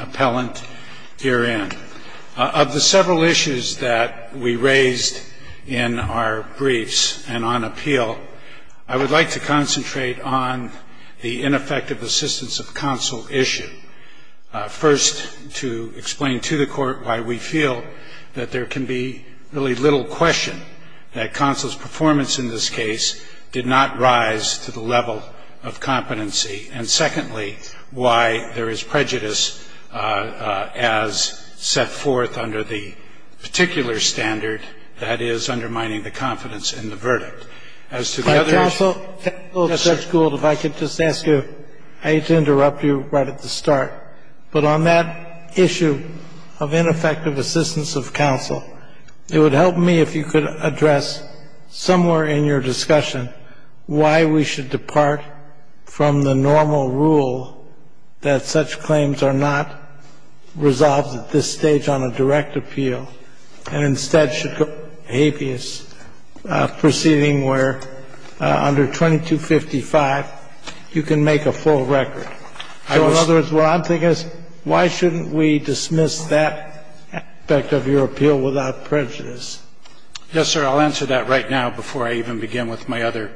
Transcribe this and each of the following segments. Appellant herein. Of the several issues that we raised in our briefs and on appeal, I would like to concentrate on the ineffective assistance of counsel issue. First, to explain to the court why we feel that there can be really little question that counsel's performance in this case did not rise to the level of the court's expectations. of competency, and secondly, why there is prejudice as set forth under the particular standard that is undermining the confidence in the verdict. As to the other issue... If I could just ask you, I hate to interrupt you right at the start, but on that issue of ineffective assistance of counsel, it would help me if you could address somewhere in your discussion why we should depart from the normal rule that such claims are not resolved at this stage on a direct appeal, and instead should go habeas, proceeding where, under 2255, counsel's performance in this case did not rise to the level of the court's expectations. You can make a full record. So in other words, what I'm thinking is, why shouldn't we dismiss that aspect of your appeal without prejudice? Yes, sir. I'll answer that right now before I even begin with my other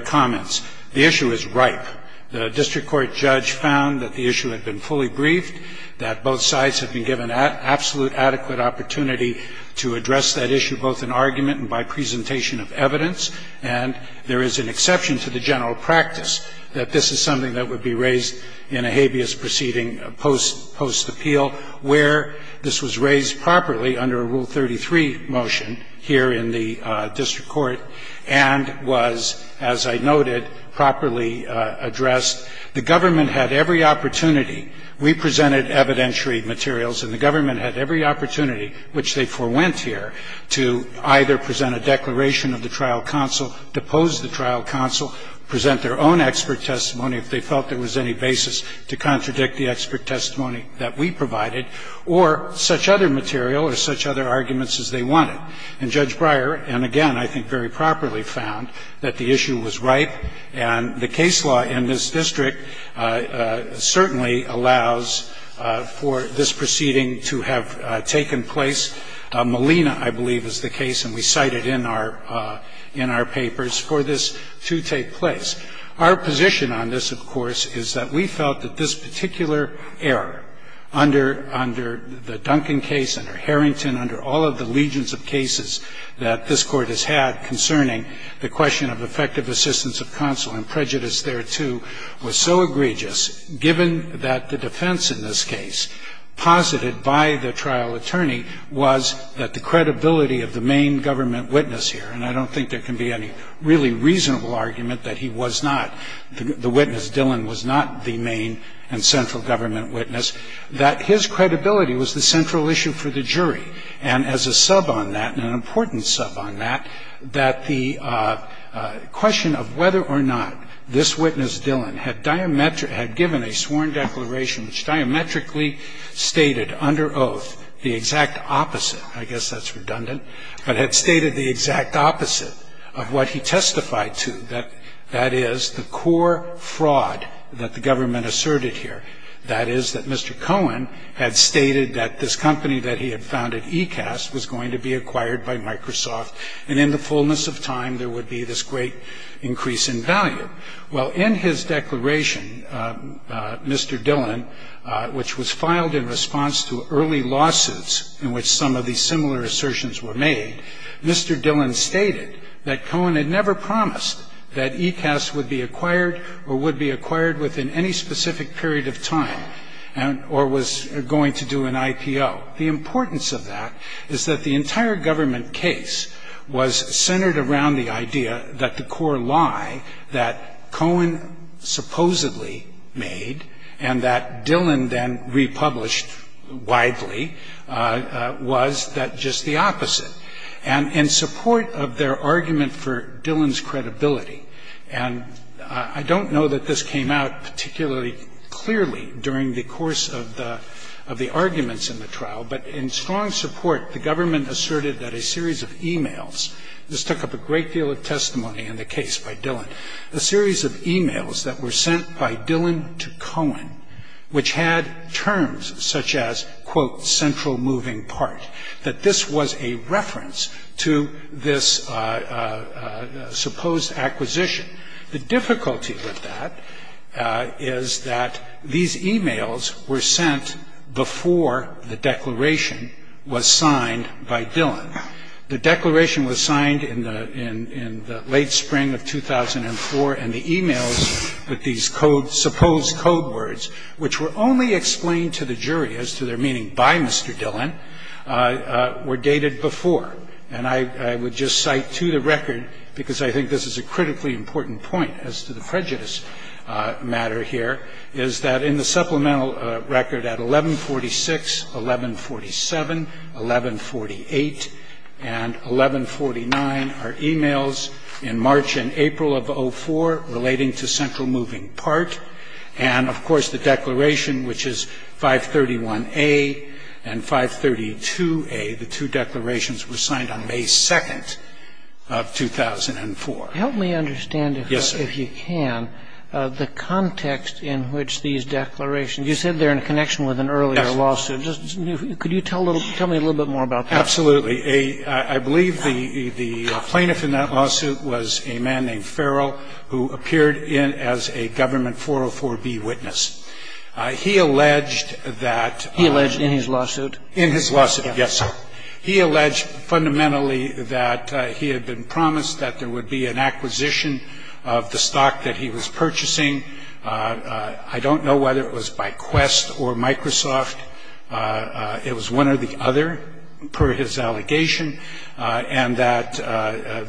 comments. The issue is ripe. The district court judge found that the issue had been fully briefed, that both sides had been given absolute adequate opportunity to address that issue both in argument and by presentation of evidence. And there is an exception to the general practice that this is something that would be raised in a habeas proceeding post-appeal, where this was raised properly under a Rule 33 motion here in the district court and was, as I noted, properly addressed. The government had every opportunity, we presented evidentiary materials, and the government had every opportunity, which they forewent here, to either present a declaration of the trial counsel, depose the trial counsel, present their own expert testimony, if they felt there was any basis to contradict the expert testimony that we provided, or such other material or such other arguments as they wanted. And Judge Breyer, and again, I think very properly found that the issue was ripe, and the case law in this district certainly allows for this proceeding to have taken place. Molina, I believe, is the case, and we cite it in our papers, for this to take place. Our position on this, of course, is that we felt that this case was so egregious, given that the defense in this case, posited by the trial attorney, was that the credibility of the main government witness here, and I don't think there can be any really reasonable argument that he was not, the witness, Dillon, was not the main and central government witness, that his credibility was the central issue for the jury. And as a sub on that, and an important sub on that, that the question of whether or not this witness, Dillon, had given a sworn declaration which diametrically stated, under oath, the exact opposite, I guess that's redundant, but had stated the exact opposite of what he testified to, that is, the core fraud that the government asserted here, that is, that Mr. Cohen had stated that this company that he had founded, Ecast, was going to be acquired by Microsoft, and in the fullness of time, there would be this great increase in value. Well, in his declaration, Mr. Dillon, which was filed in response to early lawsuits in which some of these similar assertions were made, Mr. Dillon stated that Cohen had never promised that Ecast would be acquired or would be acquired within any specific period of time, or was going to do an IPO. The importance of that is that the entire government case was centered around the idea that the core lie that Cohen supposedly made, and that Dillon then republished widely, was that just the opposite. And in support of their argument for Dillon's credibility, and I don't know that this came out particularly clearly during the course of the arguments in the trial, but in strong support, the government asserted that a series of e-mails, this took up a great deal of testimony in the part, that this was a reference to this supposed acquisition. The difficulty with that is that these e-mails were sent before the declaration was signed by Dillon. The declaration was signed in the late spring of 2004, and the e-mails with these supposed code words, which were only explained to the jury as to their why Mr. Dillon, were dated before. And I would just cite to the record, because I think this is a critically important point as to the prejudice matter here, is that in the supplemental record at 1146, 1147, 1148, and 1149 are e-mails in March and April of 04 relating to central moving part. And of course, the declaration, which is 531A and 532A, the two declarations were signed on May 2nd of 2004. Help me understand if you can the context in which these declarations, you said they're in connection with an earlier lawsuit. Yes. Could you tell me a little bit more about that? Absolutely. I believe the plaintiff in that lawsuit was a man named Farrell, who appeared in as a government 404B witness. He alleged that He alleged in his lawsuit? In his lawsuit, yes. He alleged fundamentally that he had been promised that there would be an acquisition of the stock that he was purchasing. I don't know whether it was by Quest or Microsoft. It was one or the other, per his allegation, and that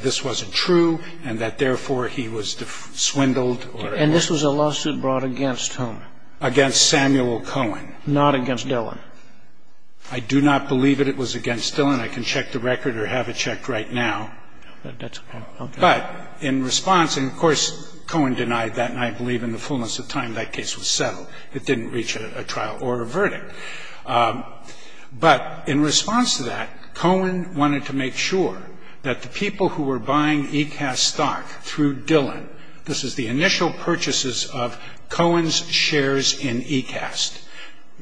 this wasn't true and that, therefore, he was swindled. And this was a lawsuit brought against whom? Against Samuel Cohen. Not against Dillon? I do not believe that it was against Dillon. I can check the record or have it checked right now. That's okay. Okay. But in response, and of course, Cohen denied that, and I believe in the fullness of time that case was settled. It didn't reach a trial or a verdict. But in response to that, Cohen wanted to make sure that the people who were buying ECAST stock through Dillon, this is the initial purchases of Cohen's shares in ECAST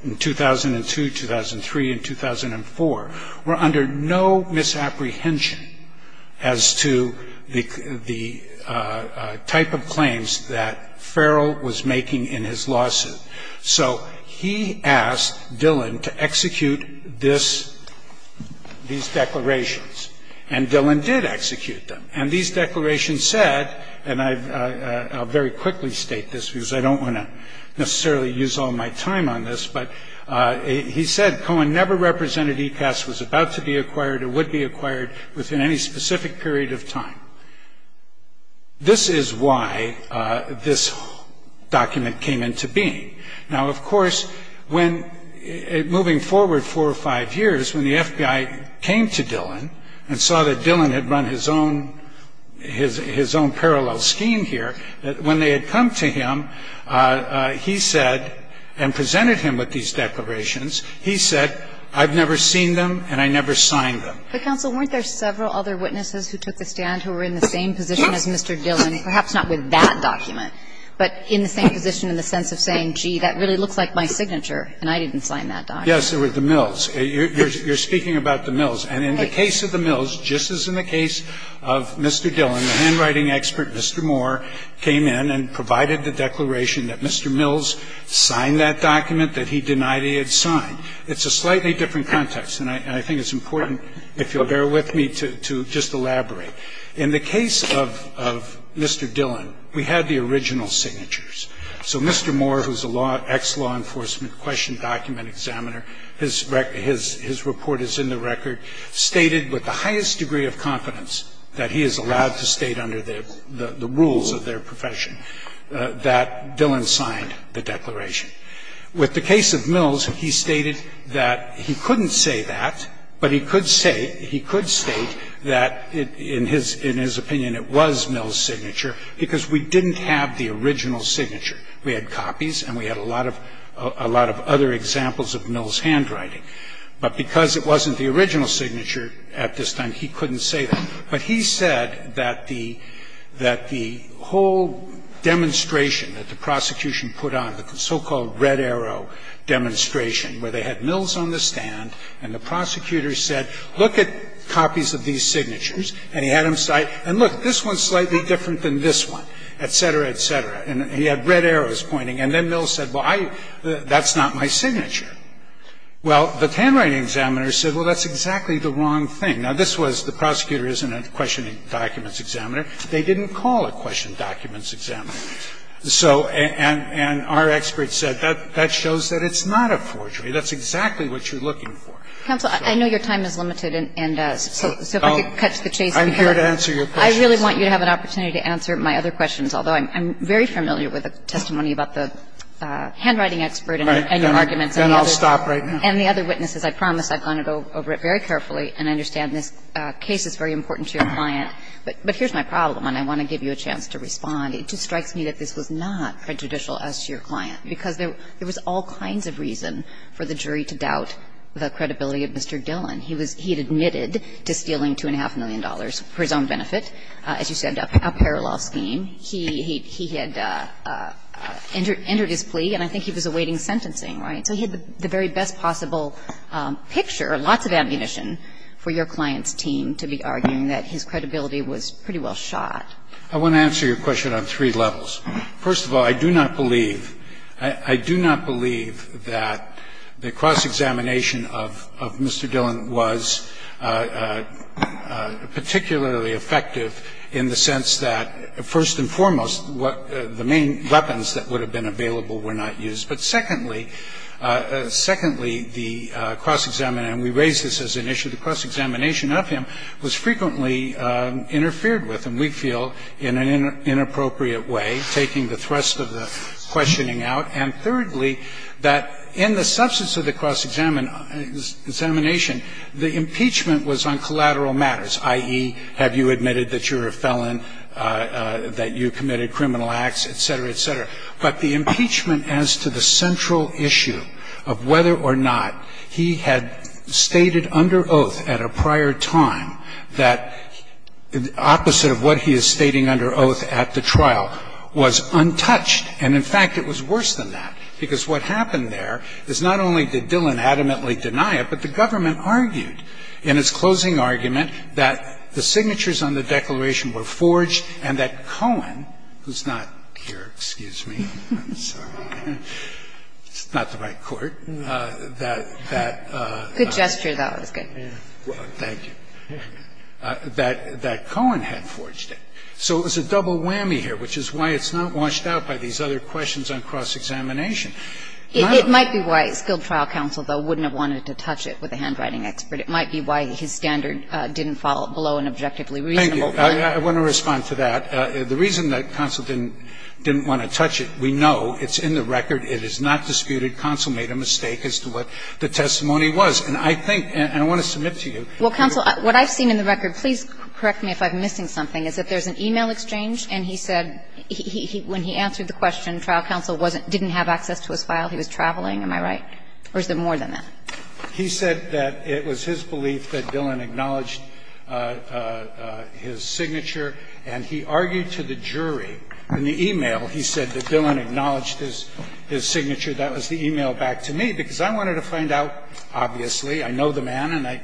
in 2002, 2003, and 2004, were under no misapprehension as to the type of claims that Farrell was making in his lawsuit. So he asked Dillon to execute these declarations, and Dillon did execute them. And these declarations said, and I'll very quickly state this because I don't want to necessarily use all my time on this, but he said Cohen never represented ECAST was about to be acquired or would be acquired within any specific period of time. This is why this document came into being. Now, of course, when moving forward four or five years, when the FBI came to Dillon and saw that Dillon had run his own parallel scheme here, when they had come to him, he said, and presented him with these declarations, he said, I've never seen them and I never signed them. But, counsel, weren't there several other witnesses who took the stand who were in the same position as Mr. Dillon, perhaps not with that document, but in the same position in the sense of saying, gee, that really looks like my signature and I didn't sign that document? Yes, there were the Mills. You're speaking about the Mills. And in the case of the Mills, just as in the case of Mr. Dillon, the handwriting expert, Mr. Moore, came in and provided the declaration that Mr. Mills signed that document. And in the case of Mr. Dillon, we had the original signatures. So Mr. Moore, who is an ex-law enforcement question document examiner, his report is in the record, stated with the highest degree of confidence that he is allowed to state under the rules of their profession that Dillon signed the declaration. With the case of Mills, he stated that he couldn't say that, but he could say that in his opinion it was Mills' signature because we didn't have the original signature. We had copies and we had a lot of other examples of Mills' handwriting. But because it wasn't the original signature at this time, he couldn't say that. But he said that the whole demonstration that the prosecution put on, the so-called red arrow demonstration where they had Mills on the stand and the prosecutor said, look at copies of these signatures. And he had him say, and look, this one is slightly different than this one, et cetera, et cetera. And he had red arrows pointing. And then Mills said, well, that's not my signature. Well, the handwriting examiner said, well, that's exactly the wrong thing. Now, this was the prosecutor isn't a questioning documents examiner. They didn't call a questioning documents examiner. So and our experts said that shows that it's not a forgery. That's exactly what you're looking for. Kagan. I'm sorry. Counsel, I know your time is limited and so if I could catch the chase. I'm here to answer your questions. I really want you to have an opportunity to answer my other questions, although I'm very familiar with the testimony about the handwriting expert and your arguments. Then I'll stop right now. And the other witnesses. I promise I've gone over it very carefully and I understand this case is very important to your client. But here's my problem and I want to give you a chance to respond. It just strikes me that this was not prejudicial as to your client because there was all kinds of reason for the jury to doubt the credibility of Mr. Dillon. He was he admitted to stealing $2.5 million for his own benefit. As you said, a parallel scheme. He had entered his plea and I think he was awaiting sentencing, right? So he had the very best possible picture, lots of ammunition for your client's team to be arguing that his credibility was pretty well shot. I want to answer your question on three levels. First of all, I do not believe, I do not believe that the cross-examination of Mr. Dillon was particularly effective in the sense that, first and foremost, what the main weapons that would have been available were not used. But secondly, secondly, the cross-examination, and we raise this as an issue, the cross-examination of him was frequently interfered with. And we feel in an inappropriate way, taking the thrust of the questioning out, and thirdly, that in the substance of the cross-examination, the impeachment was on collateral matters, i.e., have you admitted that you're a felon, that you committed criminal acts, et cetera, et cetera. But the impeachment as to the central issue of whether or not he had stated under oath at a prior time that the opposite of what he is stating under oath at the trial was untouched, and in fact, it was worse than that, because what happened there is not only did Dillon adamantly deny it, but the government argued in its closing argument that the signatures on the declaration were forged and that Cohen, who's not here, excuse me, I'm sorry, it's not the right court, that that. Kagan. Good gesture, though. It was good. Thank you. That Cohen had forged it. So it was a double whammy here, which is why it's not washed out by these other questions on cross-examination. It might be why a skilled trial counsel, though, wouldn't have wanted to touch it with a handwriting expert. It might be why his standard didn't fall below an objectively reasonable point. Thank you. I want to respond to that. The reason that counsel didn't want to touch it, we know. It's in the record. It is not disputed. Counsel made a mistake as to what the testimony was. And I think, and I want to submit to you. Well, counsel, what I've seen in the record, please correct me if I'm missing something, is that there's an e-mail exchange, and he said when he answered the question, trial counsel didn't have access to his file. He was traveling, am I right? Or is there more than that? He said that it was his belief that Dillon acknowledged his signature, and he argued to the jury in the e-mail. He said that Dillon acknowledged his signature. That was the e-mail back to me, because I wanted to find out, obviously. I know the man, and I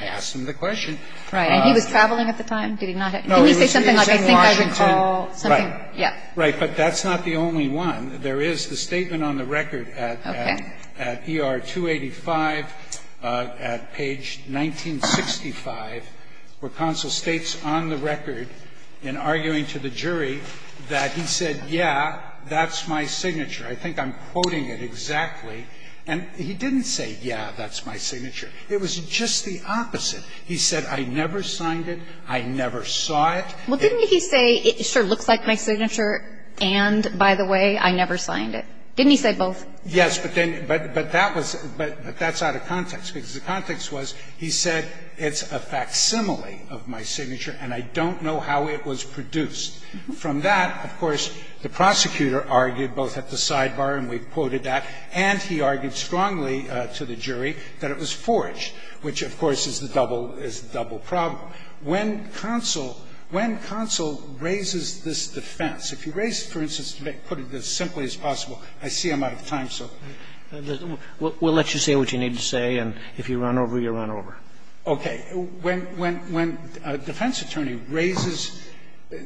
asked him the question. Right. And he was traveling at the time? Did he not have access? No. He was in Washington. I think I recall something. Right. Right. But that's not the only one. There is the statement on the record at ER 285, at page 1965, where counsel states on the record, in arguing to the jury, that he said, yeah, that's my signature. I think I'm quoting it exactly. And he didn't say, yeah, that's my signature. It was just the opposite. He said, I never signed it, I never saw it. Well, didn't he say, it sure looks like my signature, and, by the way, I never signed it? Didn't he say both? Yes, but then that was – but that's out of context, because the context was he said it's a facsimile of my signature, and I don't know how it was produced. From that, of course, the prosecutor argued both at the sidebar, and we've quoted that, and he argued strongly to the jury that it was forged, which, of course, is the double – is the double problem. When counsel – when counsel raises this defense, if he raised it, for instance, to put it as simply as possible, I see I'm out of time, so. We'll let you say what you need to say, and if you run over, you run over. Okay. When a defense attorney raises a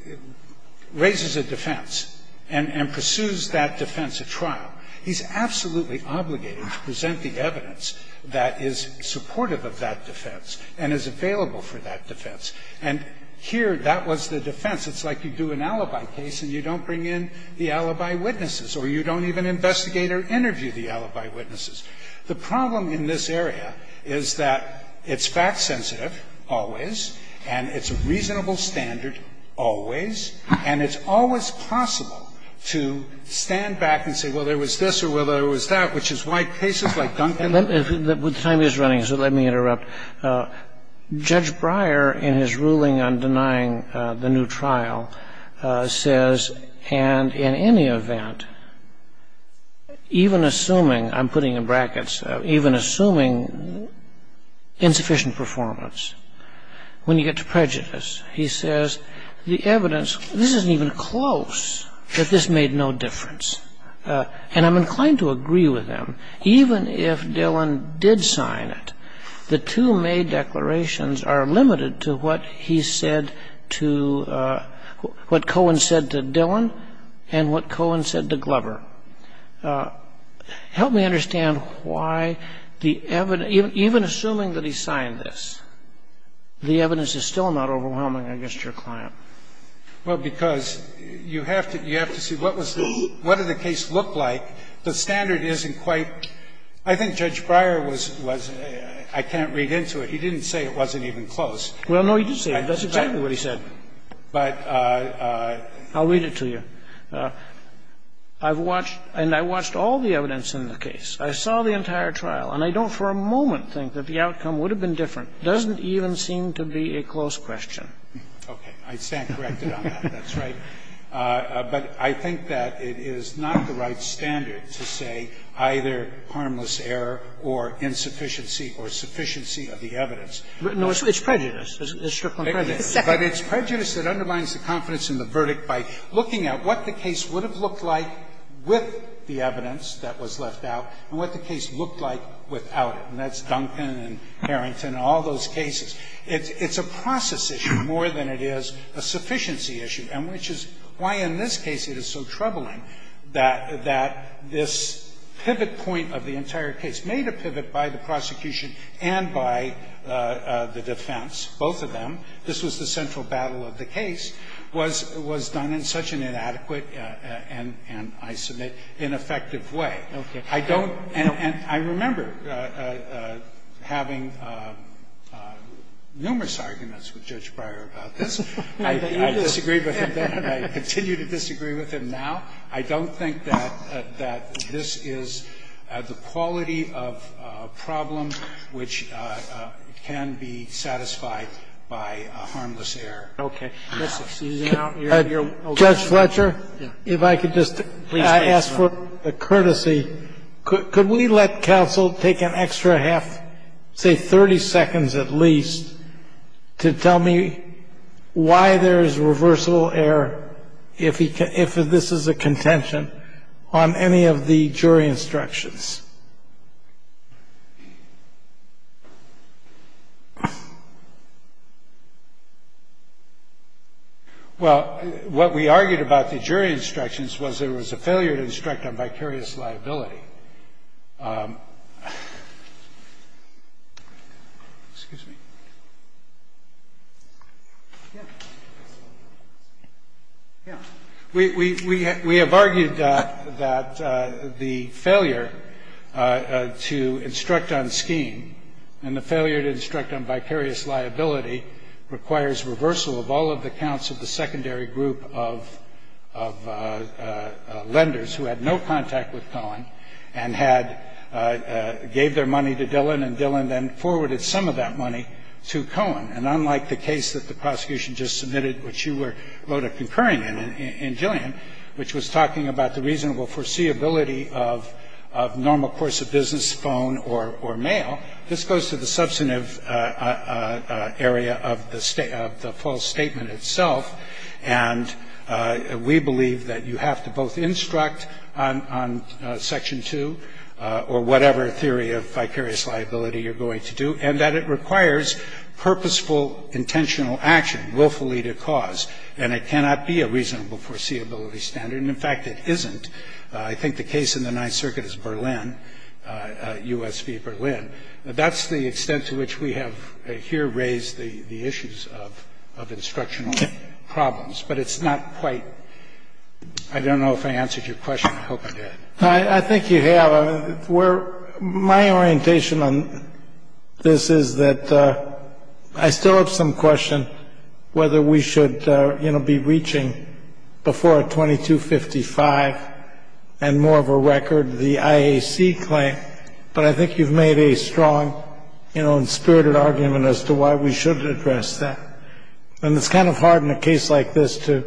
defense and pursues that defense at trial, he's absolutely obligated to present the evidence that is supportive of that defense and is available for that defense. And here, that was the defense. It's like you do an alibi case and you don't bring in the alibi witnesses, or you don't even investigate or interview the alibi witnesses. The problem in this area is that it's fact-sensitive always, and it's a reasonable standard always, and it's always possible to stand back and say, well, there was this or, well, there was that, which is why cases like Duncan and others – The time is running, so let me interrupt. Judge Breyer, in his ruling on denying the new trial, says, and in any event, even assuming – I'm putting in brackets – even assuming insufficient performance, when you get to prejudice, he says, the evidence – this isn't even close – that this made no difference. And I'm inclined to agree with him. Even if Dillon did sign it, the two May declarations are limited to what he said to what Cohen said to Dillon and what Cohen said to Glover. Help me understand why the – even assuming that he signed this, the evidence is still not overwhelming against your client. Well, because you have to see what was the – what did the case look like? The standard isn't quite – I think Judge Breyer was – I can't read into it. He didn't say it wasn't even close. Well, no, he did say it. That's exactly what he said. But – I'll read it to you. I've watched – and I watched all the evidence in the case. I saw the entire trial. And I don't for a moment think that the outcome would have been different. It doesn't even seem to be a close question. Okay. I stand corrected on that. That's right. But I think that it is not the right standard to say either harmless error or insufficiency or sufficiency of the evidence. No, it's prejudice. It's strictly prejudice. But it's prejudice that undermines the confidence in the verdict by looking at what the case would have looked like with the evidence that was left out and what the case looked like without it. And that's Duncan and Harrington and all those cases. It's a process issue more than it is a sufficiency issue, and which is why in this case it is so troubling that this pivot point of the entire case, made a pivot by the both of them, this was the central battle of the case, was done in such an inadequate and, I submit, ineffective way. Okay. I don't – and I remember having numerous arguments with Judge Breyer about this. I disagree with him then and I continue to disagree with him now. I don't think that this is the quality of problem which can be satisfied by a harmless error. Okay. Let's excuse now your question. Judge Fletcher, if I could just ask for a courtesy. Could we let counsel take an extra half, say 30 seconds at least, to tell me why there is a reversible error, if this is a contention, on any of the jury instructions? Well, what we argued about the jury instructions was there was a failure to instruct on vicarious liability. Excuse me. Yeah. We have argued that the failure to instruct on scheme and the failure to instruct on vicarious liability requires reversal of all of the counts of the secondary group of lenders who had no contact with Cohen and had – gave their money to Dillon and Dillon then forwarded some of that money to Cohen. And unlike the case that the prosecution just submitted, which you wrote a concurring in, in Gillian, which was talking about the reasonable foreseeability of normal course of business, phone or mail, this goes to the substantive area of the false statement itself. And we believe that you have to both instruct on section 2 or whatever theory of vicarious liability you're going to do, and that it requires purposeful, intentional action, willfully to cause. And it cannot be a reasonable foreseeability standard, and in fact, it isn't. I think the case in the Ninth Circuit is Berlin, US v. Berlin. That's the extent to which we have here raised the issues of instructional problems, but it's not quite – I don't know if I answered your question. I hope I did. I think you have. My orientation on this is that I still have some question whether we should, you know, be reaching before a 2255 and more of a record the IAC claim, but I think you've made a strong, you know, and spirited argument as to why we should address that. And it's kind of hard in a case like this to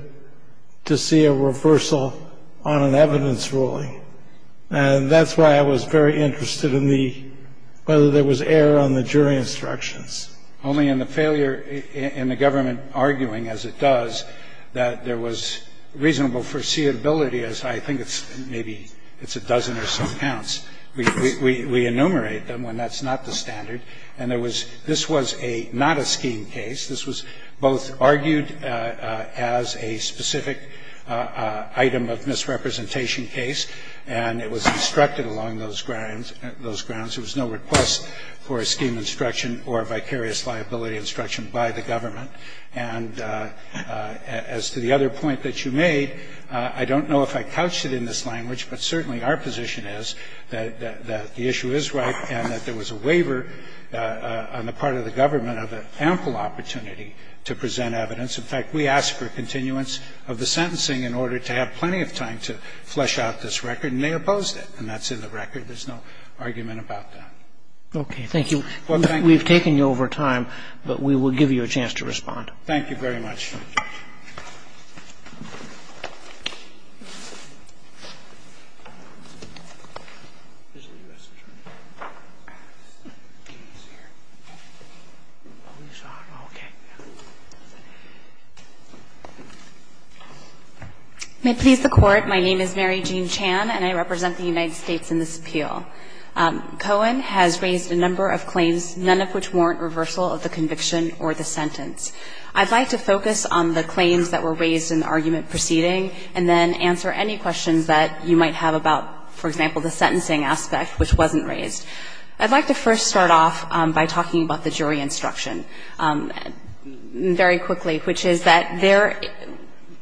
see a reversal on an evidence ruling. And that's why I was very interested in the – whether there was error on the jury instructions. Only in the failure in the government arguing, as it does, that there was reasonable foreseeability, as I think it's maybe – it's a dozen or so counts. We enumerate them when that's not the standard. And there was – this was a – not a scheme case. This was both argued as a specific item of misrepresentation case, and it was instructed along those grounds. There was no request for a scheme instruction or a vicarious liability instruction by the government. And as to the other point that you made, I don't know if I couched it in this language, but certainly our position is that the issue is right and that there was a waiver on the part of the government of ample opportunity to present evidence. In fact, we asked for continuance of the sentencing in order to have plenty of time to flesh out this record, and they opposed it. And that's in the record. There's no argument about that. Okay. Thank you. Well, thank you. We've taken you over time, but we will give you a chance to respond. Thank you very much. May it please the Court, my name is Mary Jean Chan, and I represent the United States in this appeal. Cohen has raised a number of claims, none of which warrant reversal of the conviction or the sentence. I'd like to focus on the claims that were raised in the argument preceding and then answer any questions that you might have about, for example, the sentencing aspect, which wasn't raised. I'd like to first start off by talking about the jury instruction very quickly, which is that there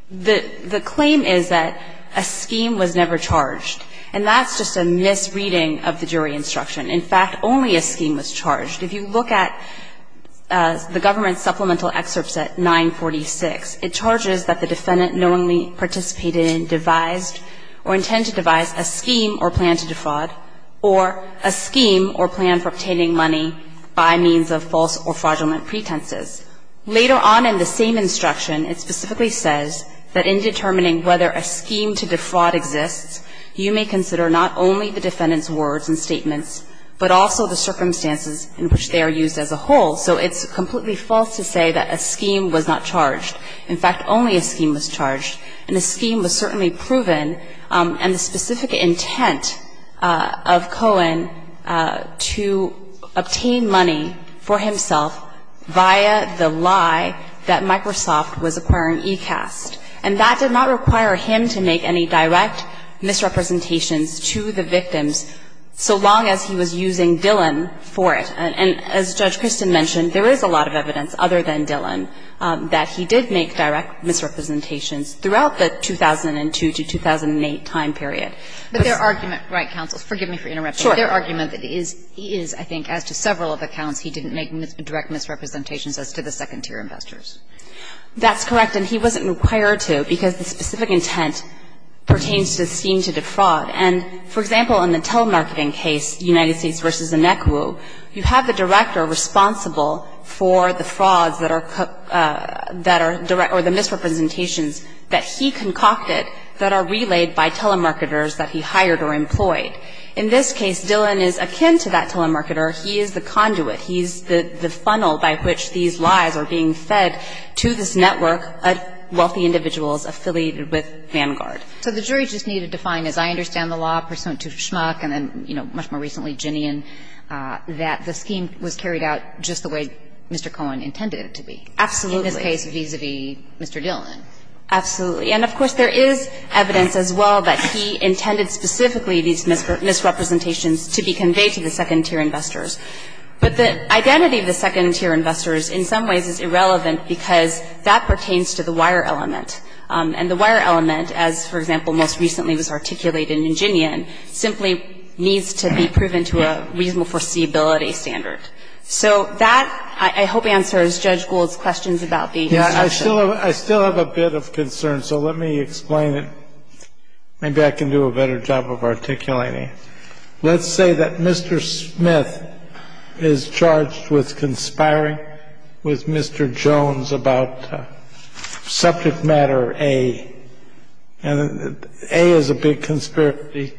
the claim is that a scheme was never charged. And that's just a misreading of the jury instruction. In fact, only a scheme was charged. If you look at the government supplemental excerpt set 946, it charges that the defendant knowingly participated in, devised, or intended to devise a scheme or plan to defraud or a scheme or plan for obtaining money by means of false or fraudulent pretenses. Later on in the same instruction, it specifically says that in determining whether a scheme to defraud exists, you may consider not only the defendant's words and statements, but also the circumstances in which they are used as a whole. So it's completely false to say that a scheme was not charged. In fact, only a scheme was charged. And a scheme was certainly proven, and the specific intent of Cohen to obtain money for himself via the lie that Microsoft was acquiring ECAST. And that did not require him to make any direct misrepresentations to the victims so long as he was using Dillon for it. And as Judge Kristin mentioned, there is a lot of evidence, other than Dillon, that he did make direct misrepresentations throughout the 2002 to 2008 time period. But there are arguments, right, counsel, forgive me for interrupting, there are arguments that he is, I think, as to several of the counts, he didn't make direct misrepresentations as to the second-tier investors. That's correct. And he wasn't required to because the specific intent pertains to the scheme to defraud. And, for example, in the telemarketing case, United States v. Inekwu, you have the director responsible for the frauds that are, or the misrepresentations that he concocted that are relayed by telemarketers that he hired or employed. In this case, Dillon is akin to that telemarketer. He is the conduit. He's the funnel by which these lies are being fed to this network of wealthy individuals affiliated with Vanguard. So the jury just needed to find, as I understand the law, pursuant to Schmuck and then, you know, much more recently, Ginian, that the scheme was carried out just the way Mr. Cohen intended it to be. Absolutely. In this case, vis-à-vis Mr. Dillon. Absolutely. And, of course, there is evidence as well that he intended specifically these misrepresentations to be conveyed to the second-tier investors. But the identity of the second-tier investors in some ways is irrelevant because that pertains to the wire element. And the wire element, as, for example, most recently was articulated in Ginian, simply needs to be proven to a reasonable foreseeability standard. So that, I hope, answers Judge Gould's questions about the instruction. I still have a bit of concern, so let me explain it. Maybe I can do a better job of articulating it. Let's say that Mr. Smith is charged with conspiring with Mr. Jones about subject matter A. And A is a big conspiracy,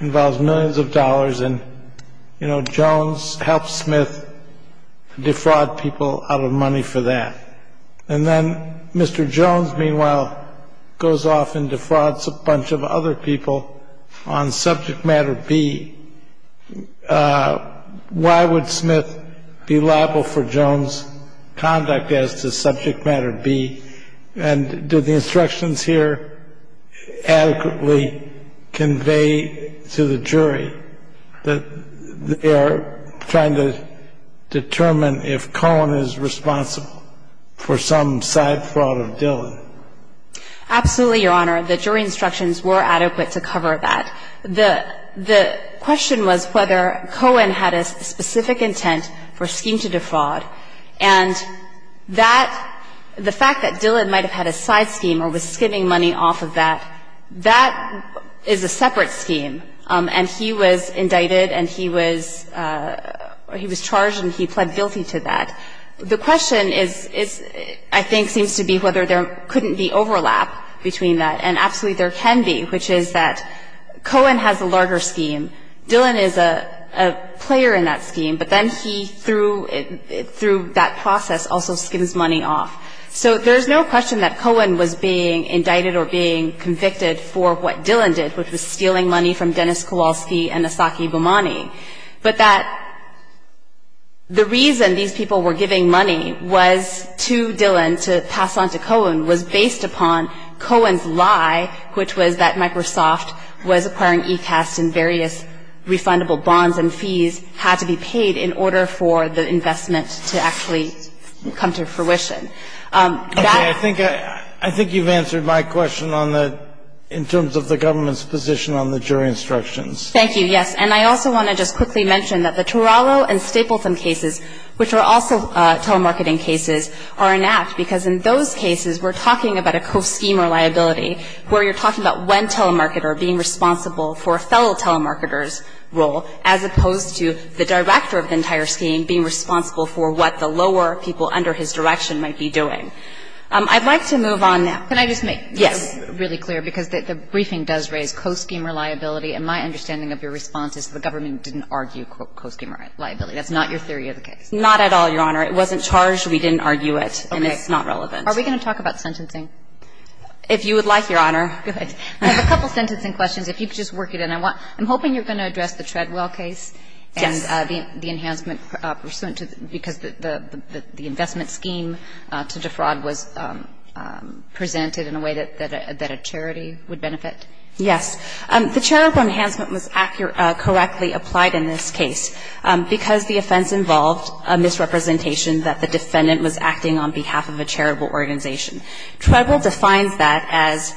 involves millions of dollars. And, you know, Jones helps Smith defraud people out of money for that. And then Mr. Jones, meanwhile, goes off and defrauds a bunch of other people on subject matter B. Why would Smith be liable for Jones' conduct as to subject matter B? And do the instructions here adequately convey to the jury that they're trying to determine if Cohen is responsible for some side fraud of Dillon? Absolutely, Your Honor. The jury instructions were adequate to cover that. The question was whether Cohen had a specific intent for scheme to defraud. And that the fact that Dillon might have had a side scheme or was skimming money off of that, that is a separate scheme. And he was indicted and he was charged and he pled guilty to that. The question is, I think, seems to be whether there couldn't be overlap between that. And absolutely there can be, which is that Cohen has a larger scheme. Dillon is a player in that scheme. But then he, through that process, also skims money off. So there's no question that Cohen was being indicted or being convicted for what Dillon did, which was stealing money from Dennis Kowalski and Asaki Bumani. But that the reason these people were giving money was to Dillon, to pass on to Cohen, was based upon Cohen's lie, which was that Microsoft was acquiring ECAST and various refundable bonds and fees had to be paid in order for the investment to actually come to fruition. That- Okay, I think you've answered my question on the, in terms of the government's position on the jury instructions. Thank you, yes. And I also want to just quickly mention that the Turalo and Stapleton cases, which are also telemarketing cases, are an act because in those cases, we're talking about a co-scheme reliability where you're talking about one telemarketer being responsible for a fellow telemarketer's role as opposed to the director of the entire scheme being responsible for what the lower people under his direction might be doing. I'd like to move on now. Can I just make- Yes. Really clear because the briefing does raise co-scheme reliability and my understanding of your response is the government didn't argue co-scheme reliability. That's not your theory of the case. Not at all, Your Honor. It wasn't charged. We didn't argue it and it's not relevant. Are we going to talk about sentencing? If you would like, Your Honor. Good. I have a couple sentencing questions. If you could just work it in. I want, I'm hoping you're going to address the Treadwell case. Yes. And the enhancement pursuant to, because the investment scheme to defraud was presented in a way that a charity would benefit. Yes. The charitable enhancement was accurately, correctly applied in this case because the offense involved a misrepresentation that the defendant was acting on behalf of a charitable organization. Treadwell defines that as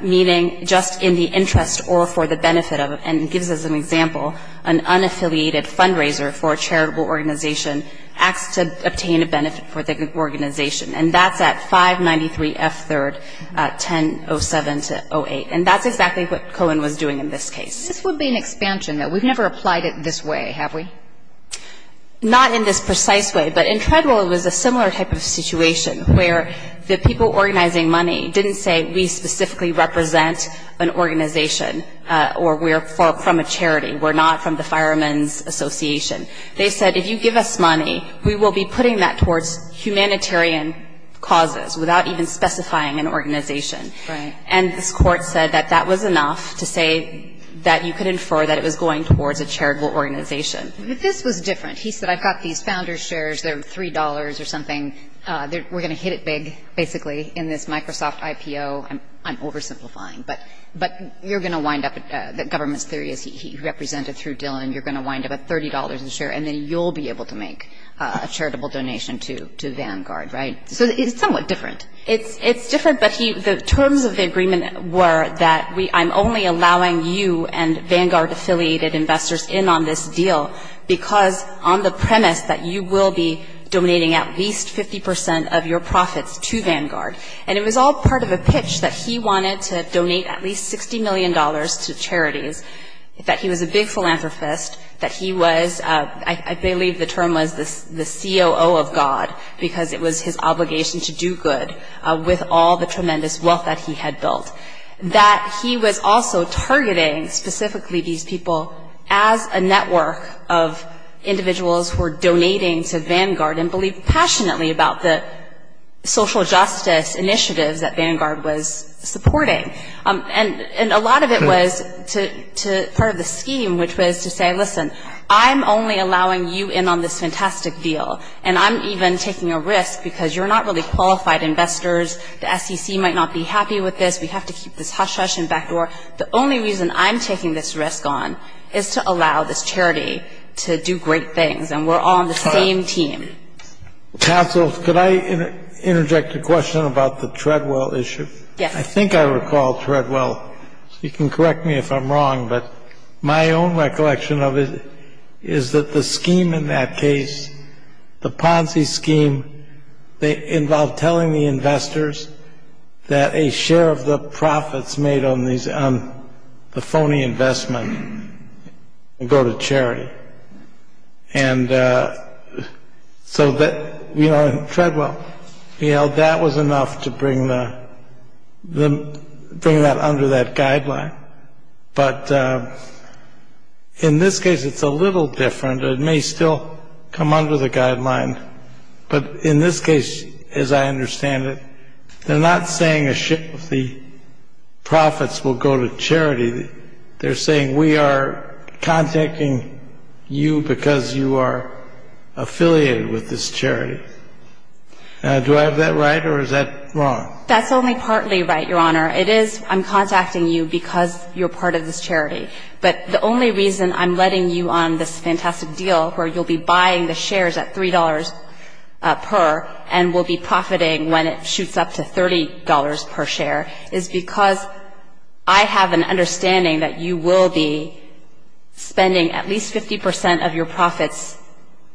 meaning just in the interest or for the benefit of, and gives us an example, an unaffiliated fundraiser for a charitable organization acts to obtain a benefit for the organization. And that's at 593 F 3rd, 1007 to 08. And that's exactly what Cohen was doing in this case. This would be an expansion that we've never applied it this way, have we? Not in this precise way. But in Treadwell, it was a similar type of situation where the people organizing money didn't say we specifically represent an organization or we're from a charity. We're not from the Fireman's Association. They said, if you give us money, we will be putting that towards humanitarian causes without even specifying an organization. Right. And this court said that that was enough to say that you could infer that it was going towards a charitable organization. But this was different. He said, I've got these founders' shares. They're $3 or something. We're going to hit it big, basically, in this Microsoft IPO. I'm oversimplifying, but you're going to wind up, the government's theory is he represented through Dillon. You're going to wind up at $30 a share, and then you'll be able to make a charitable donation to Vanguard, right? So it's somewhat different. It's different, but the terms of the agreement were that I'm only allowing you and Vanguard-affiliated investors in on this deal because on the premise that you will be donating at least 50% of your profits to Vanguard. And it was all part of a pitch that he wanted to donate at least $60 million to charities, that he was a big philanthropist, that he was, I believe the term was the COO of God because it was his obligation to do good with all the tremendous wealth that he had built, that he was also targeting specifically these people as a network of individuals who are donating to Vanguard and believe passionately about the social justice initiatives that Vanguard was supporting, and a lot of it was part of the scheme, which was to say, listen, I'm only allowing you in on this fantastic deal. And I'm even taking a risk because you're not really qualified investors. The SEC might not be happy with this. We have to keep this hush-hush in back door. The only reason I'm taking this risk on is to allow this charity to do great things, and we're all on the same team. Counsel, could I interject a question about the Treadwell issue? Yes. I think I recall Treadwell. You can correct me if I'm wrong, but my own recollection of it is that the scheme in that case, the Ponzi scheme, they involved telling the investors that a share of the profits made on the phony investment would go to charity. And so that, you know, Treadwell, you know, that was enough to bring that under that guideline. But in this case, it's a little different. It may still come under the guideline. But in this case, as I understand it, they're not saying a share of the profits will go to charity. They're saying we are contacting you because you are affiliated with this charity. Do I have that right, or is that wrong? That's only partly right, Your Honor. It is I'm contacting you because you're part of this charity. But the only reason I'm letting you on this fantastic deal where you'll be buying the shares at $3 per and will be profiting when it shoots up to $30 per share is because I have an understanding that you will be spending at least 50% of your profits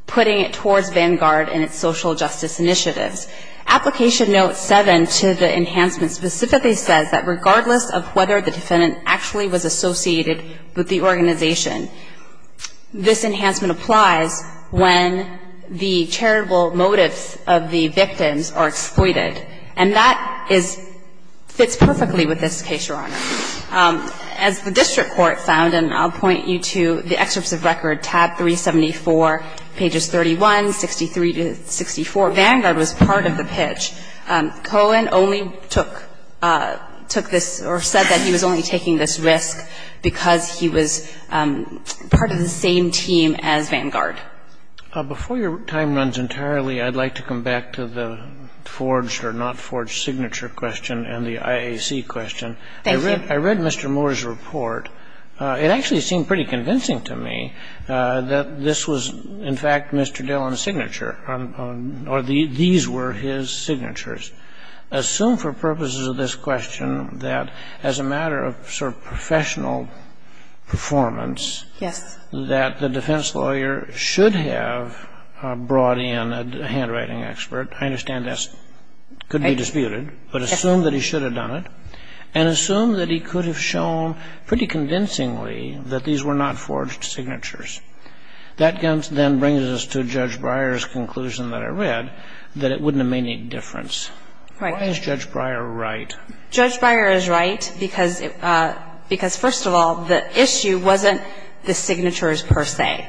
putting it towards Vanguard and its social justice initiatives. Application note 7 to the enhancement specifically says that regardless of whether the defendant actually was associated with the organization, this enhancement applies when the charitable motives of the victims are exploited. And that fits perfectly with this case, Your Honor. As the district court found, and I'll point you to the excerpts of record, tab 374, pages 31, 63 to 64, Vanguard was part of the pitch. Cohen only took this or said that he was only taking this risk because he was part of the same team as Vanguard. Before your time runs entirely, I'd like to come back to the forged or not forged signature question and the IAC question. Thank you. I read Mr. Moore's report. It actually seemed pretty convincing to me that this was, in fact, Mr. Dillon's signature, or these were his signatures. Assume for purposes of this question that as a matter of professional performance that the defense lawyer should have brought in a handwriting expert. I understand this could be disputed, but assume that he should have done it. And assume that he could have shown pretty convincingly that these were not forged signatures. That then brings us to Judge Breyer's conclusion that I read, that it wouldn't have made any difference. Why is Judge Breyer right? Judge Breyer is right because, first of all, the issue wasn't the signatures per se.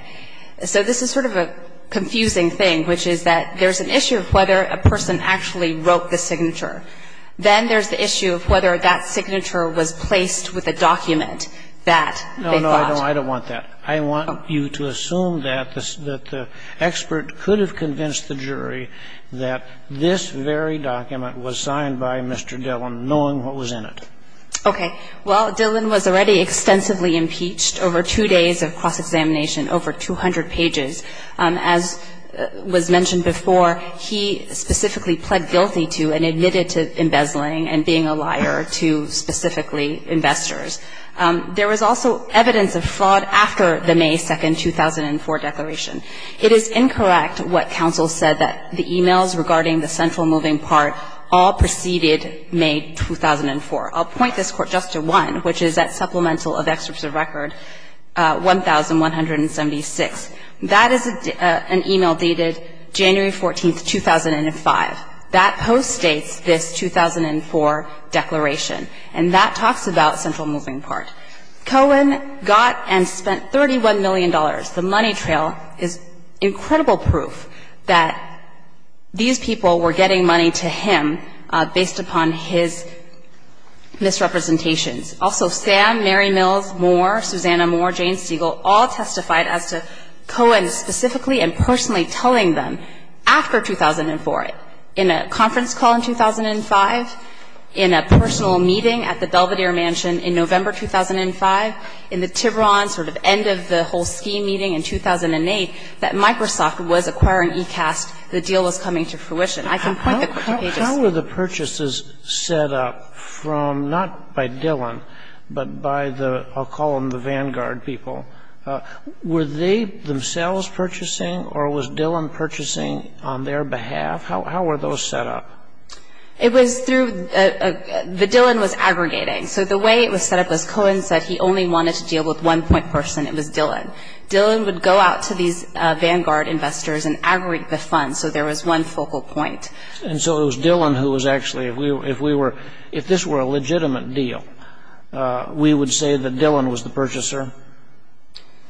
So this is sort of a confusing thing, which is that there's an issue of whether a person actually wrote the signature. Then there's the issue of whether that signature was placed with a document that they thought. No, no, I don't want that. I want you to assume that the expert could have convinced the jury that this very document was signed by Mr. Dillon, knowing what was in it. Okay. Well, Dillon was already extensively impeached over two days of cross-examination, over 200 pages. As was mentioned before, he specifically pled guilty to and admitted to embezzling and being a liar to specifically investors. There was also evidence of fraud after the May 2, 2004, declaration. It is incorrect what counsel said that the e-mails regarding the central moving part all preceded May 2004. I'll point this Court just to one, which is that supplemental of excerpts of record 1176. That is an e-mail dated January 14, 2005. That post states this 2004 declaration, and that talks about central moving part. Cohen got and spent $31 million. The money trail is incredible proof that these people were getting money to him based upon his misrepresentations. Also, Sam, Mary Mills, Moore, Susanna Moore, Jane Siegel, all testified as to Cohen specifically and personally telling them, after 2004, in a conference call in 2005, in a personal meeting at the Belvedere Mansion in November 2005, in the Tiburon sort of end of the whole scheme meeting in 2008, that Microsoft was acquiring e-cast, the deal was coming to fruition. I can point the pages. How were the purchases set up from, not by Dillon, but by the, I'll call them the Vanguard people, were they themselves purchasing, or was Dillon purchasing on their behalf? How were those set up? It was through, the Dillon was aggregating. So the way it was set up was Cohen said he only wanted to deal with one point person, it was Dillon. Dillon would go out to these Vanguard investors and aggregate the funds so there was one focal point. And so it was Dillon who was actually, if we were, if this were a legitimate deal, we would say that Dillon was the purchaser,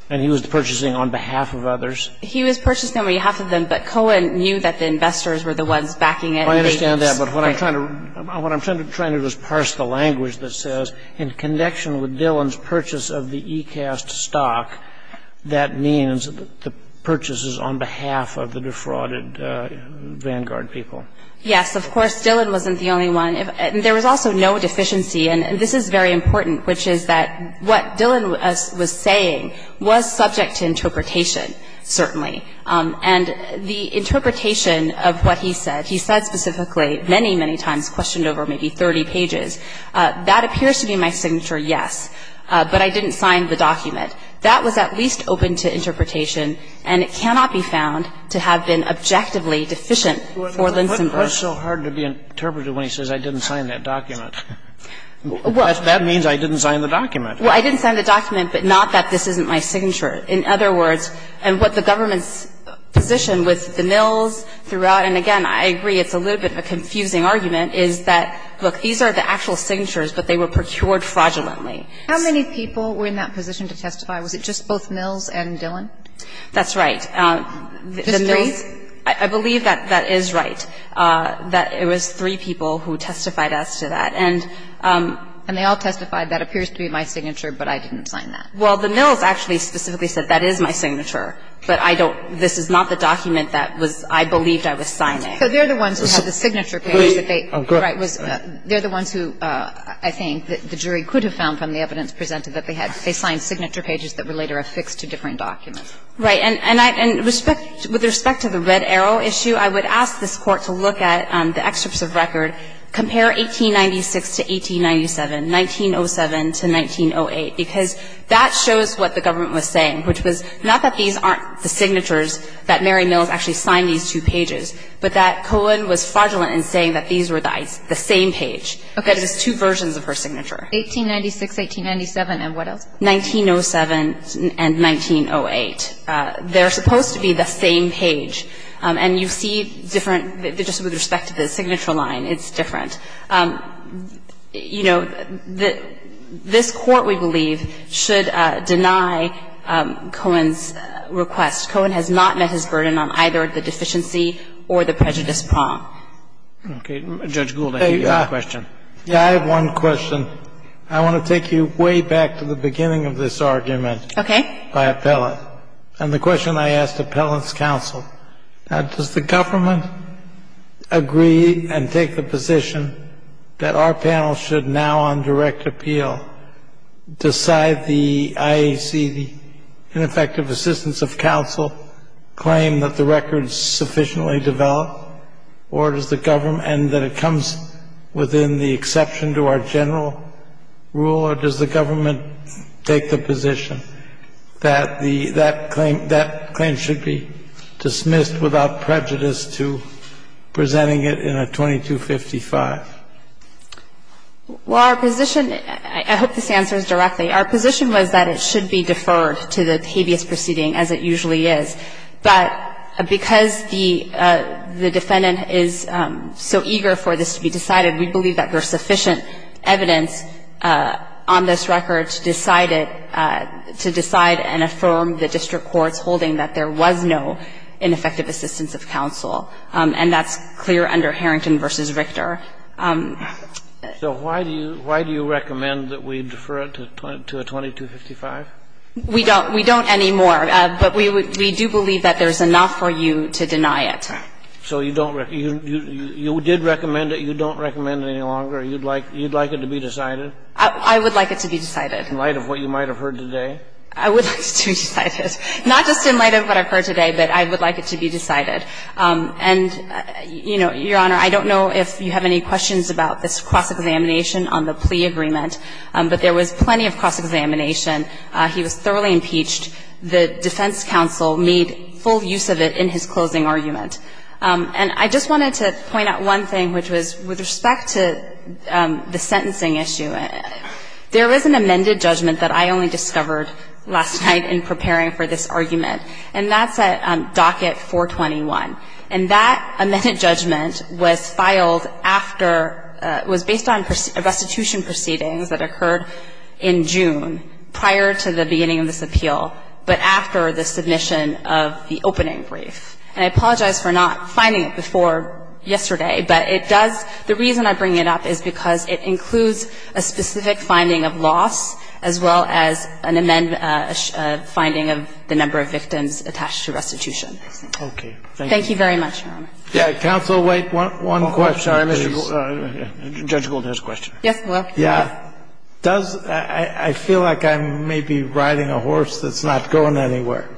and he was purchasing on behalf of others. He was purchasing on behalf of them, but Cohen knew that the investors were the ones backing it. I understand that, but what I'm trying to, what I'm trying to do is parse the language that says, in connection with Dillon's purchase of the e-cast stock, that means the purchase is on behalf of the defrauded Vanguard people. Yes, of course, Dillon wasn't the only one. There was also no deficiency, and this is very important, which is that what Dillon was saying was subject to interpretation, certainly. And the interpretation of what he said, he said specifically many, many times, questioned over maybe 30 pages. That appears to be my signature, yes, but I didn't sign the document. That was at least open to interpretation, and it cannot be found to have been objectively deficient for Linsenberg. What's so hard to be interpreted when he says, I didn't sign that document? Well, that means I didn't sign the document. Well, I didn't sign the document, but not that this isn't my signature. In other words, and what the government's position with the mills throughout and, again, I agree it's a little bit of a confusing argument, is that, look, these are the actual signatures, but they were procured fraudulently. How many people were in that position to testify? Was it just both mills and Dillon? That's right. Just three? I believe that that is right, that it was three people who testified as to that. And they all testified, that appears to be my signature, but I didn't sign that. Well, the mills actually specifically said, that is my signature, but I don't this is not the document that was, I believed I was signing. So they're the ones who have the signature page that they, right, was, they're the ones who, I think, the jury could have found from the evidence presented that they had, they signed signature pages that were later affixed to different documents. Right. And I, and with respect to the red arrow issue, I would ask this Court to look at the excerpts of record, compare 1896 to 1897, 1907 to 1908, because that shows what the government was saying, which was not that these aren't the signatures that Mary Mills actually signed these two pages, but that Cohen was fraudulent in saying that these were the same page, that it was two versions of her signature. 1896, 1897, and what else? 1907 and 1908. They're supposed to be the same page. And you see different, just with respect to the signature line, it's different. You know, the, this Court, we believe, should deny Cohen's request. Cohen has not met his burden on either the deficiency or the prejudice prong. Okay. Judge Gould, I hear you have a question. Yeah, I have one question. I want to take you way back to the beginning of this argument by Appellant. Okay. And the question I asked Appellant's counsel, does the government agree and take the position that our panel should now, on direct appeal, decide the IAC, the ineffective assistance of counsel, claim that the record's sufficiently developed, or does the government, and that it comes within the exception to our general rule, or does the government take the position that the, that claim, that claim should be dismissed without prejudice to presenting it in a 2255? Well, our position, I hope this answers directly, our position was that it should be deferred to the habeas proceeding as it usually is. But because the defendant is so eager for this to be decided, we believe that there is sufficient evidence on this record to decide it, to decide and affirm the district court's holding that there was no ineffective assistance of counsel. And that's clear under Harrington v. Richter. So why do you, why do you recommend that we defer it to a 2255? We don't, we don't anymore, but we would, we do believe that there's enough for you to deny it. So you don't, you did recommend it, you don't recommend it any longer, you'd like, you'd like it to be decided? I would like it to be decided. In light of what you might have heard today? I would like it to be decided. Not just in light of what I've heard today, but I would like it to be decided. And, you know, Your Honor, I don't know if you have any questions about this cross-examination on the plea agreement, but there was plenty of cross-examination. He was thoroughly impeached. The defense counsel made full use of it in his closing argument. And I just wanted to point out one thing, which was with respect to the sentencing issue, there is an amended judgment that I only discovered last night in preparing for this argument, and that's at docket 421. And that amended judgment was filed after, was based on restitution proceedings that occurred in June, prior to the beginning of this appeal, but after the submission of the opening brief. And I apologize for not finding it before yesterday, but it does, the reason I bring it up is because it includes a specific finding of loss, as well as an amendment, a finding of the number of victims attached to restitution. Thank you very much, Your Honor. Yeah, counsel, wait, one question. Sorry, Judge Golden has a question. Yes, I will. Yeah. Does, I feel like I may be riding a horse that's not going anywhere.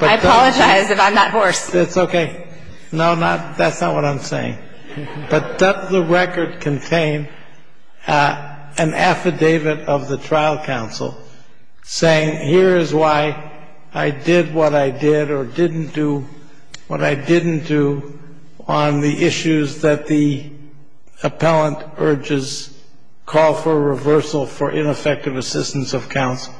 I apologize if I'm that horse. It's okay. No, not, that's not what I'm saying. But does the record contain an affidavit of the trial counsel saying, here is why I did what I did, or didn't do what I didn't do, on the issues that the appellant urges call for reversal for ineffective assistance of counsel?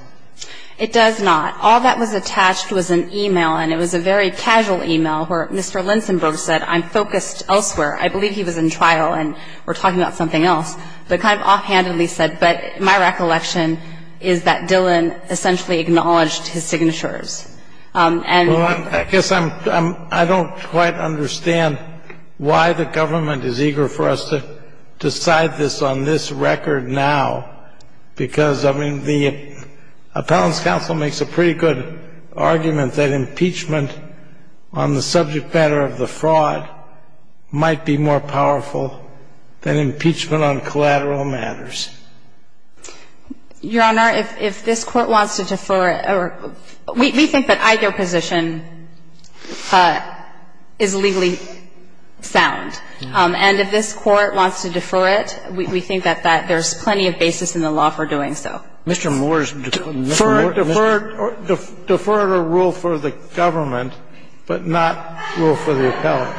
It does not. All that was attached was an email, and it was a very casual email, where Mr. Linsenburg said, I'm focused elsewhere. I believe he was in trial, and we're talking about something else. But kind of offhandedly said, but my recollection is that Dillon essentially acknowledged his signatures. And I guess I'm, I don't quite understand why the government is eager for us to decide this on this record now. Because, I mean, the appellant's counsel makes a pretty good argument that impeachment on the subject matter of the fraud might be more powerful than impeachment on collateral matters. Your Honor, if this Court wants to defer it, we think that either position is legally sound. And if this Court wants to defer it, we think that that there's plenty of basis in the law for doing so. Mr. Moore's deferred a rule for the government, but not rule for the appellant.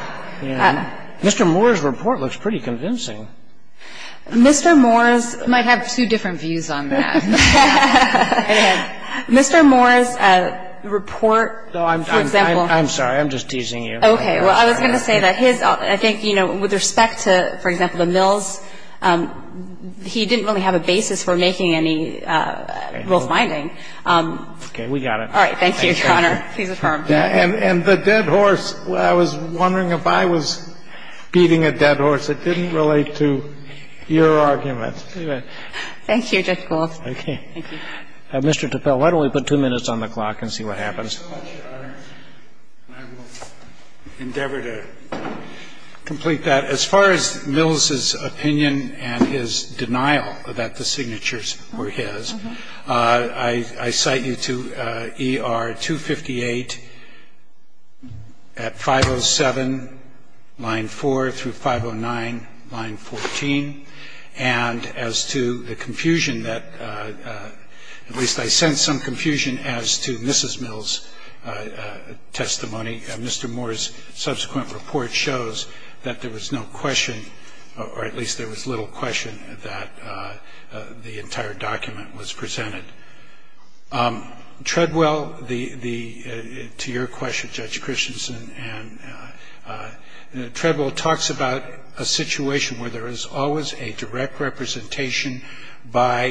Mr. Moore's report looks pretty convincing. Mr. Moore's might have two different views on that. Mr. Moore's report, for example. I'm sorry. I'm just teasing you. Okay. Well, I was going to say that his – I think, you know, with respect to, for example, the Mills, he didn't really have a basis for making any rule finding. Okay. We got it. All right. Thank you, Your Honor. Please affirm. And the dead horse, I was wondering if I was beating a dead horse. It didn't relate to your argument. Thank you, Judge Gold. Okay. Thank you. Mr. Tappell, why don't we put two minutes on the clock and see what happens? I will endeavor to complete that. As far as Mills's opinion and his denial that the signatures were his, I cite you to ER 258 at 507, line 4, through 509, line 14. And as to the confusion that – at least I sense some confusion as to Mrs. Mills' testimony. Mr. Moore's subsequent report shows that there was no question, or at least there was little question, that the entire document was presented. Treadwell, the – to your question, Judge Christensen, and Treadwell talks about a situation where there is always a direct representation by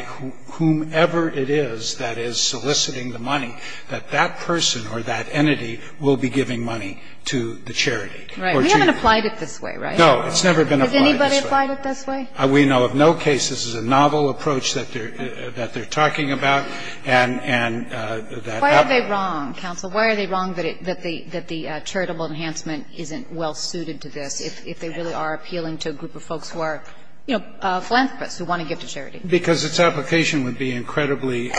whomever it is that is soliciting the money that that person or that entity will be giving money to the charity. Right. We haven't applied it this way, right? No. It's never been applied this way. Has anybody applied it this way? We know of no case this is a novel approach that they're talking about, and that Why are they wrong, counsel? Why are they wrong that the charitable enhancement isn't well-suited to this, if they really are appealing to a group of folks who are, you know, philanthropists who want to give to charity? Because its application would be incredibly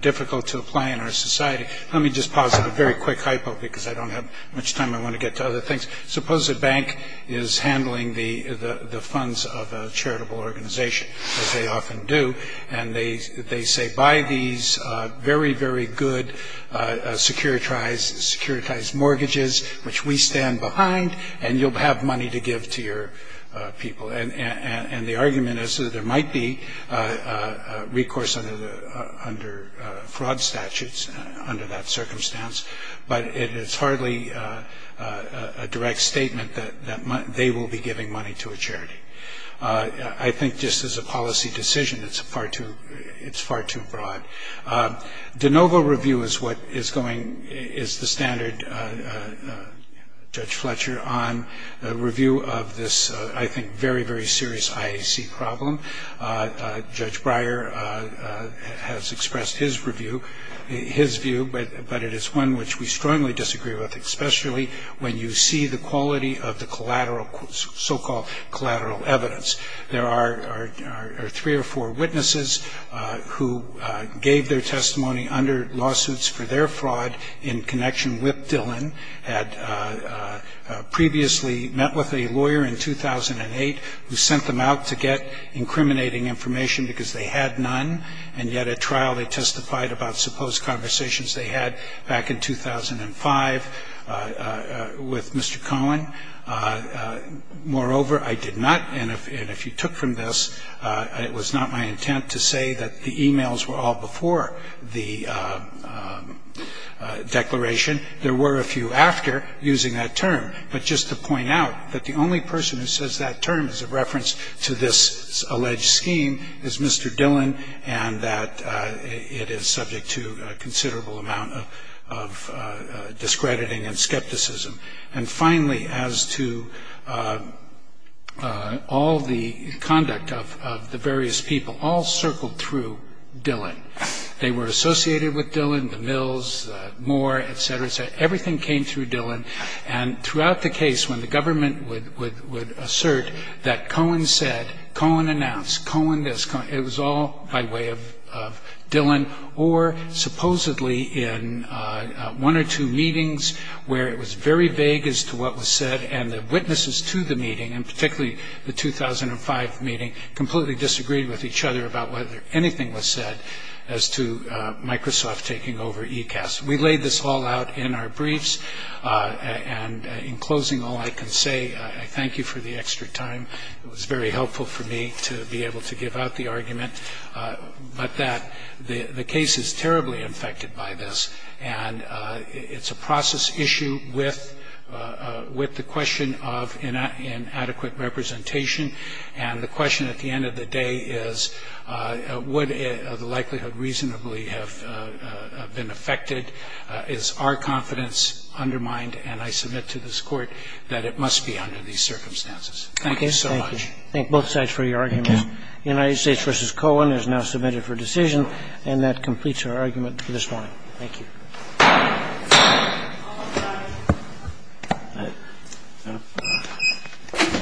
difficult to apply in our society. Let me just pause at a very quick hypo because I don't have much time. I want to get to other things. Suppose a bank is handling the funds of a charitable organization, as they often do, and they say, buy these very, very good securitized mortgages, which we stand behind, and you'll have money to give to your people. And the argument is that there might be recourse under fraud statutes under that statement that they will be giving money to a charity. I think just as a policy decision, it's far too broad. De novo review is the standard, Judge Fletcher, on the review of this, I think, very, very serious IAC problem. Judge Breyer has expressed his review, his view, but it is one which we strongly disagree with, especially when you see the quality of the collateral, so-called collateral evidence. There are three or four witnesses who gave their testimony under lawsuits for their fraud in connection with Dillon, had previously met with a lawyer in 2008 who sent them out to get incriminating information because they had none, and yet at trial they testified about supposed conversations they had back in 2005 with Mr. Colin. Moreover I did not, and if you took from this, it was not my intent to say that the e-mails were all before the declaration. There were a few after using that term, but just to point out that the only person who was subject to a considerable amount of discrediting and skepticism. And finally, as to all the conduct of the various people, all circled through Dillon. They were associated with Dillon, the Mills, Moore, et cetera, et cetera. Everything came through Dillon, and throughout the case when the government would assert that Colin said, Colin announced, Colin this, Colin that, it was all by way of Dillon, or supposedly in one or two meetings where it was very vague as to what was said, and the witnesses to the meeting, and particularly the 2005 meeting, completely disagreed with each other about whether anything was said as to Microsoft taking over ECAS. We laid this all out in our briefs, and in closing all I can say, I thank you for the extra time. It was very helpful for me to be able to give out the argument, but that the case is terribly infected by this, and it's a process issue with the question of inadequate representation, and the question at the end of the day is, would the likelihood reasonably have been affected, is our confidence undermined, and I submit to this Court that it must be under these circumstances. Thank you so much. Thank you. Thank you. Thank both sides for your arguments. The United States v. Colin is now submitted for decision, and that completes our argument for this morning.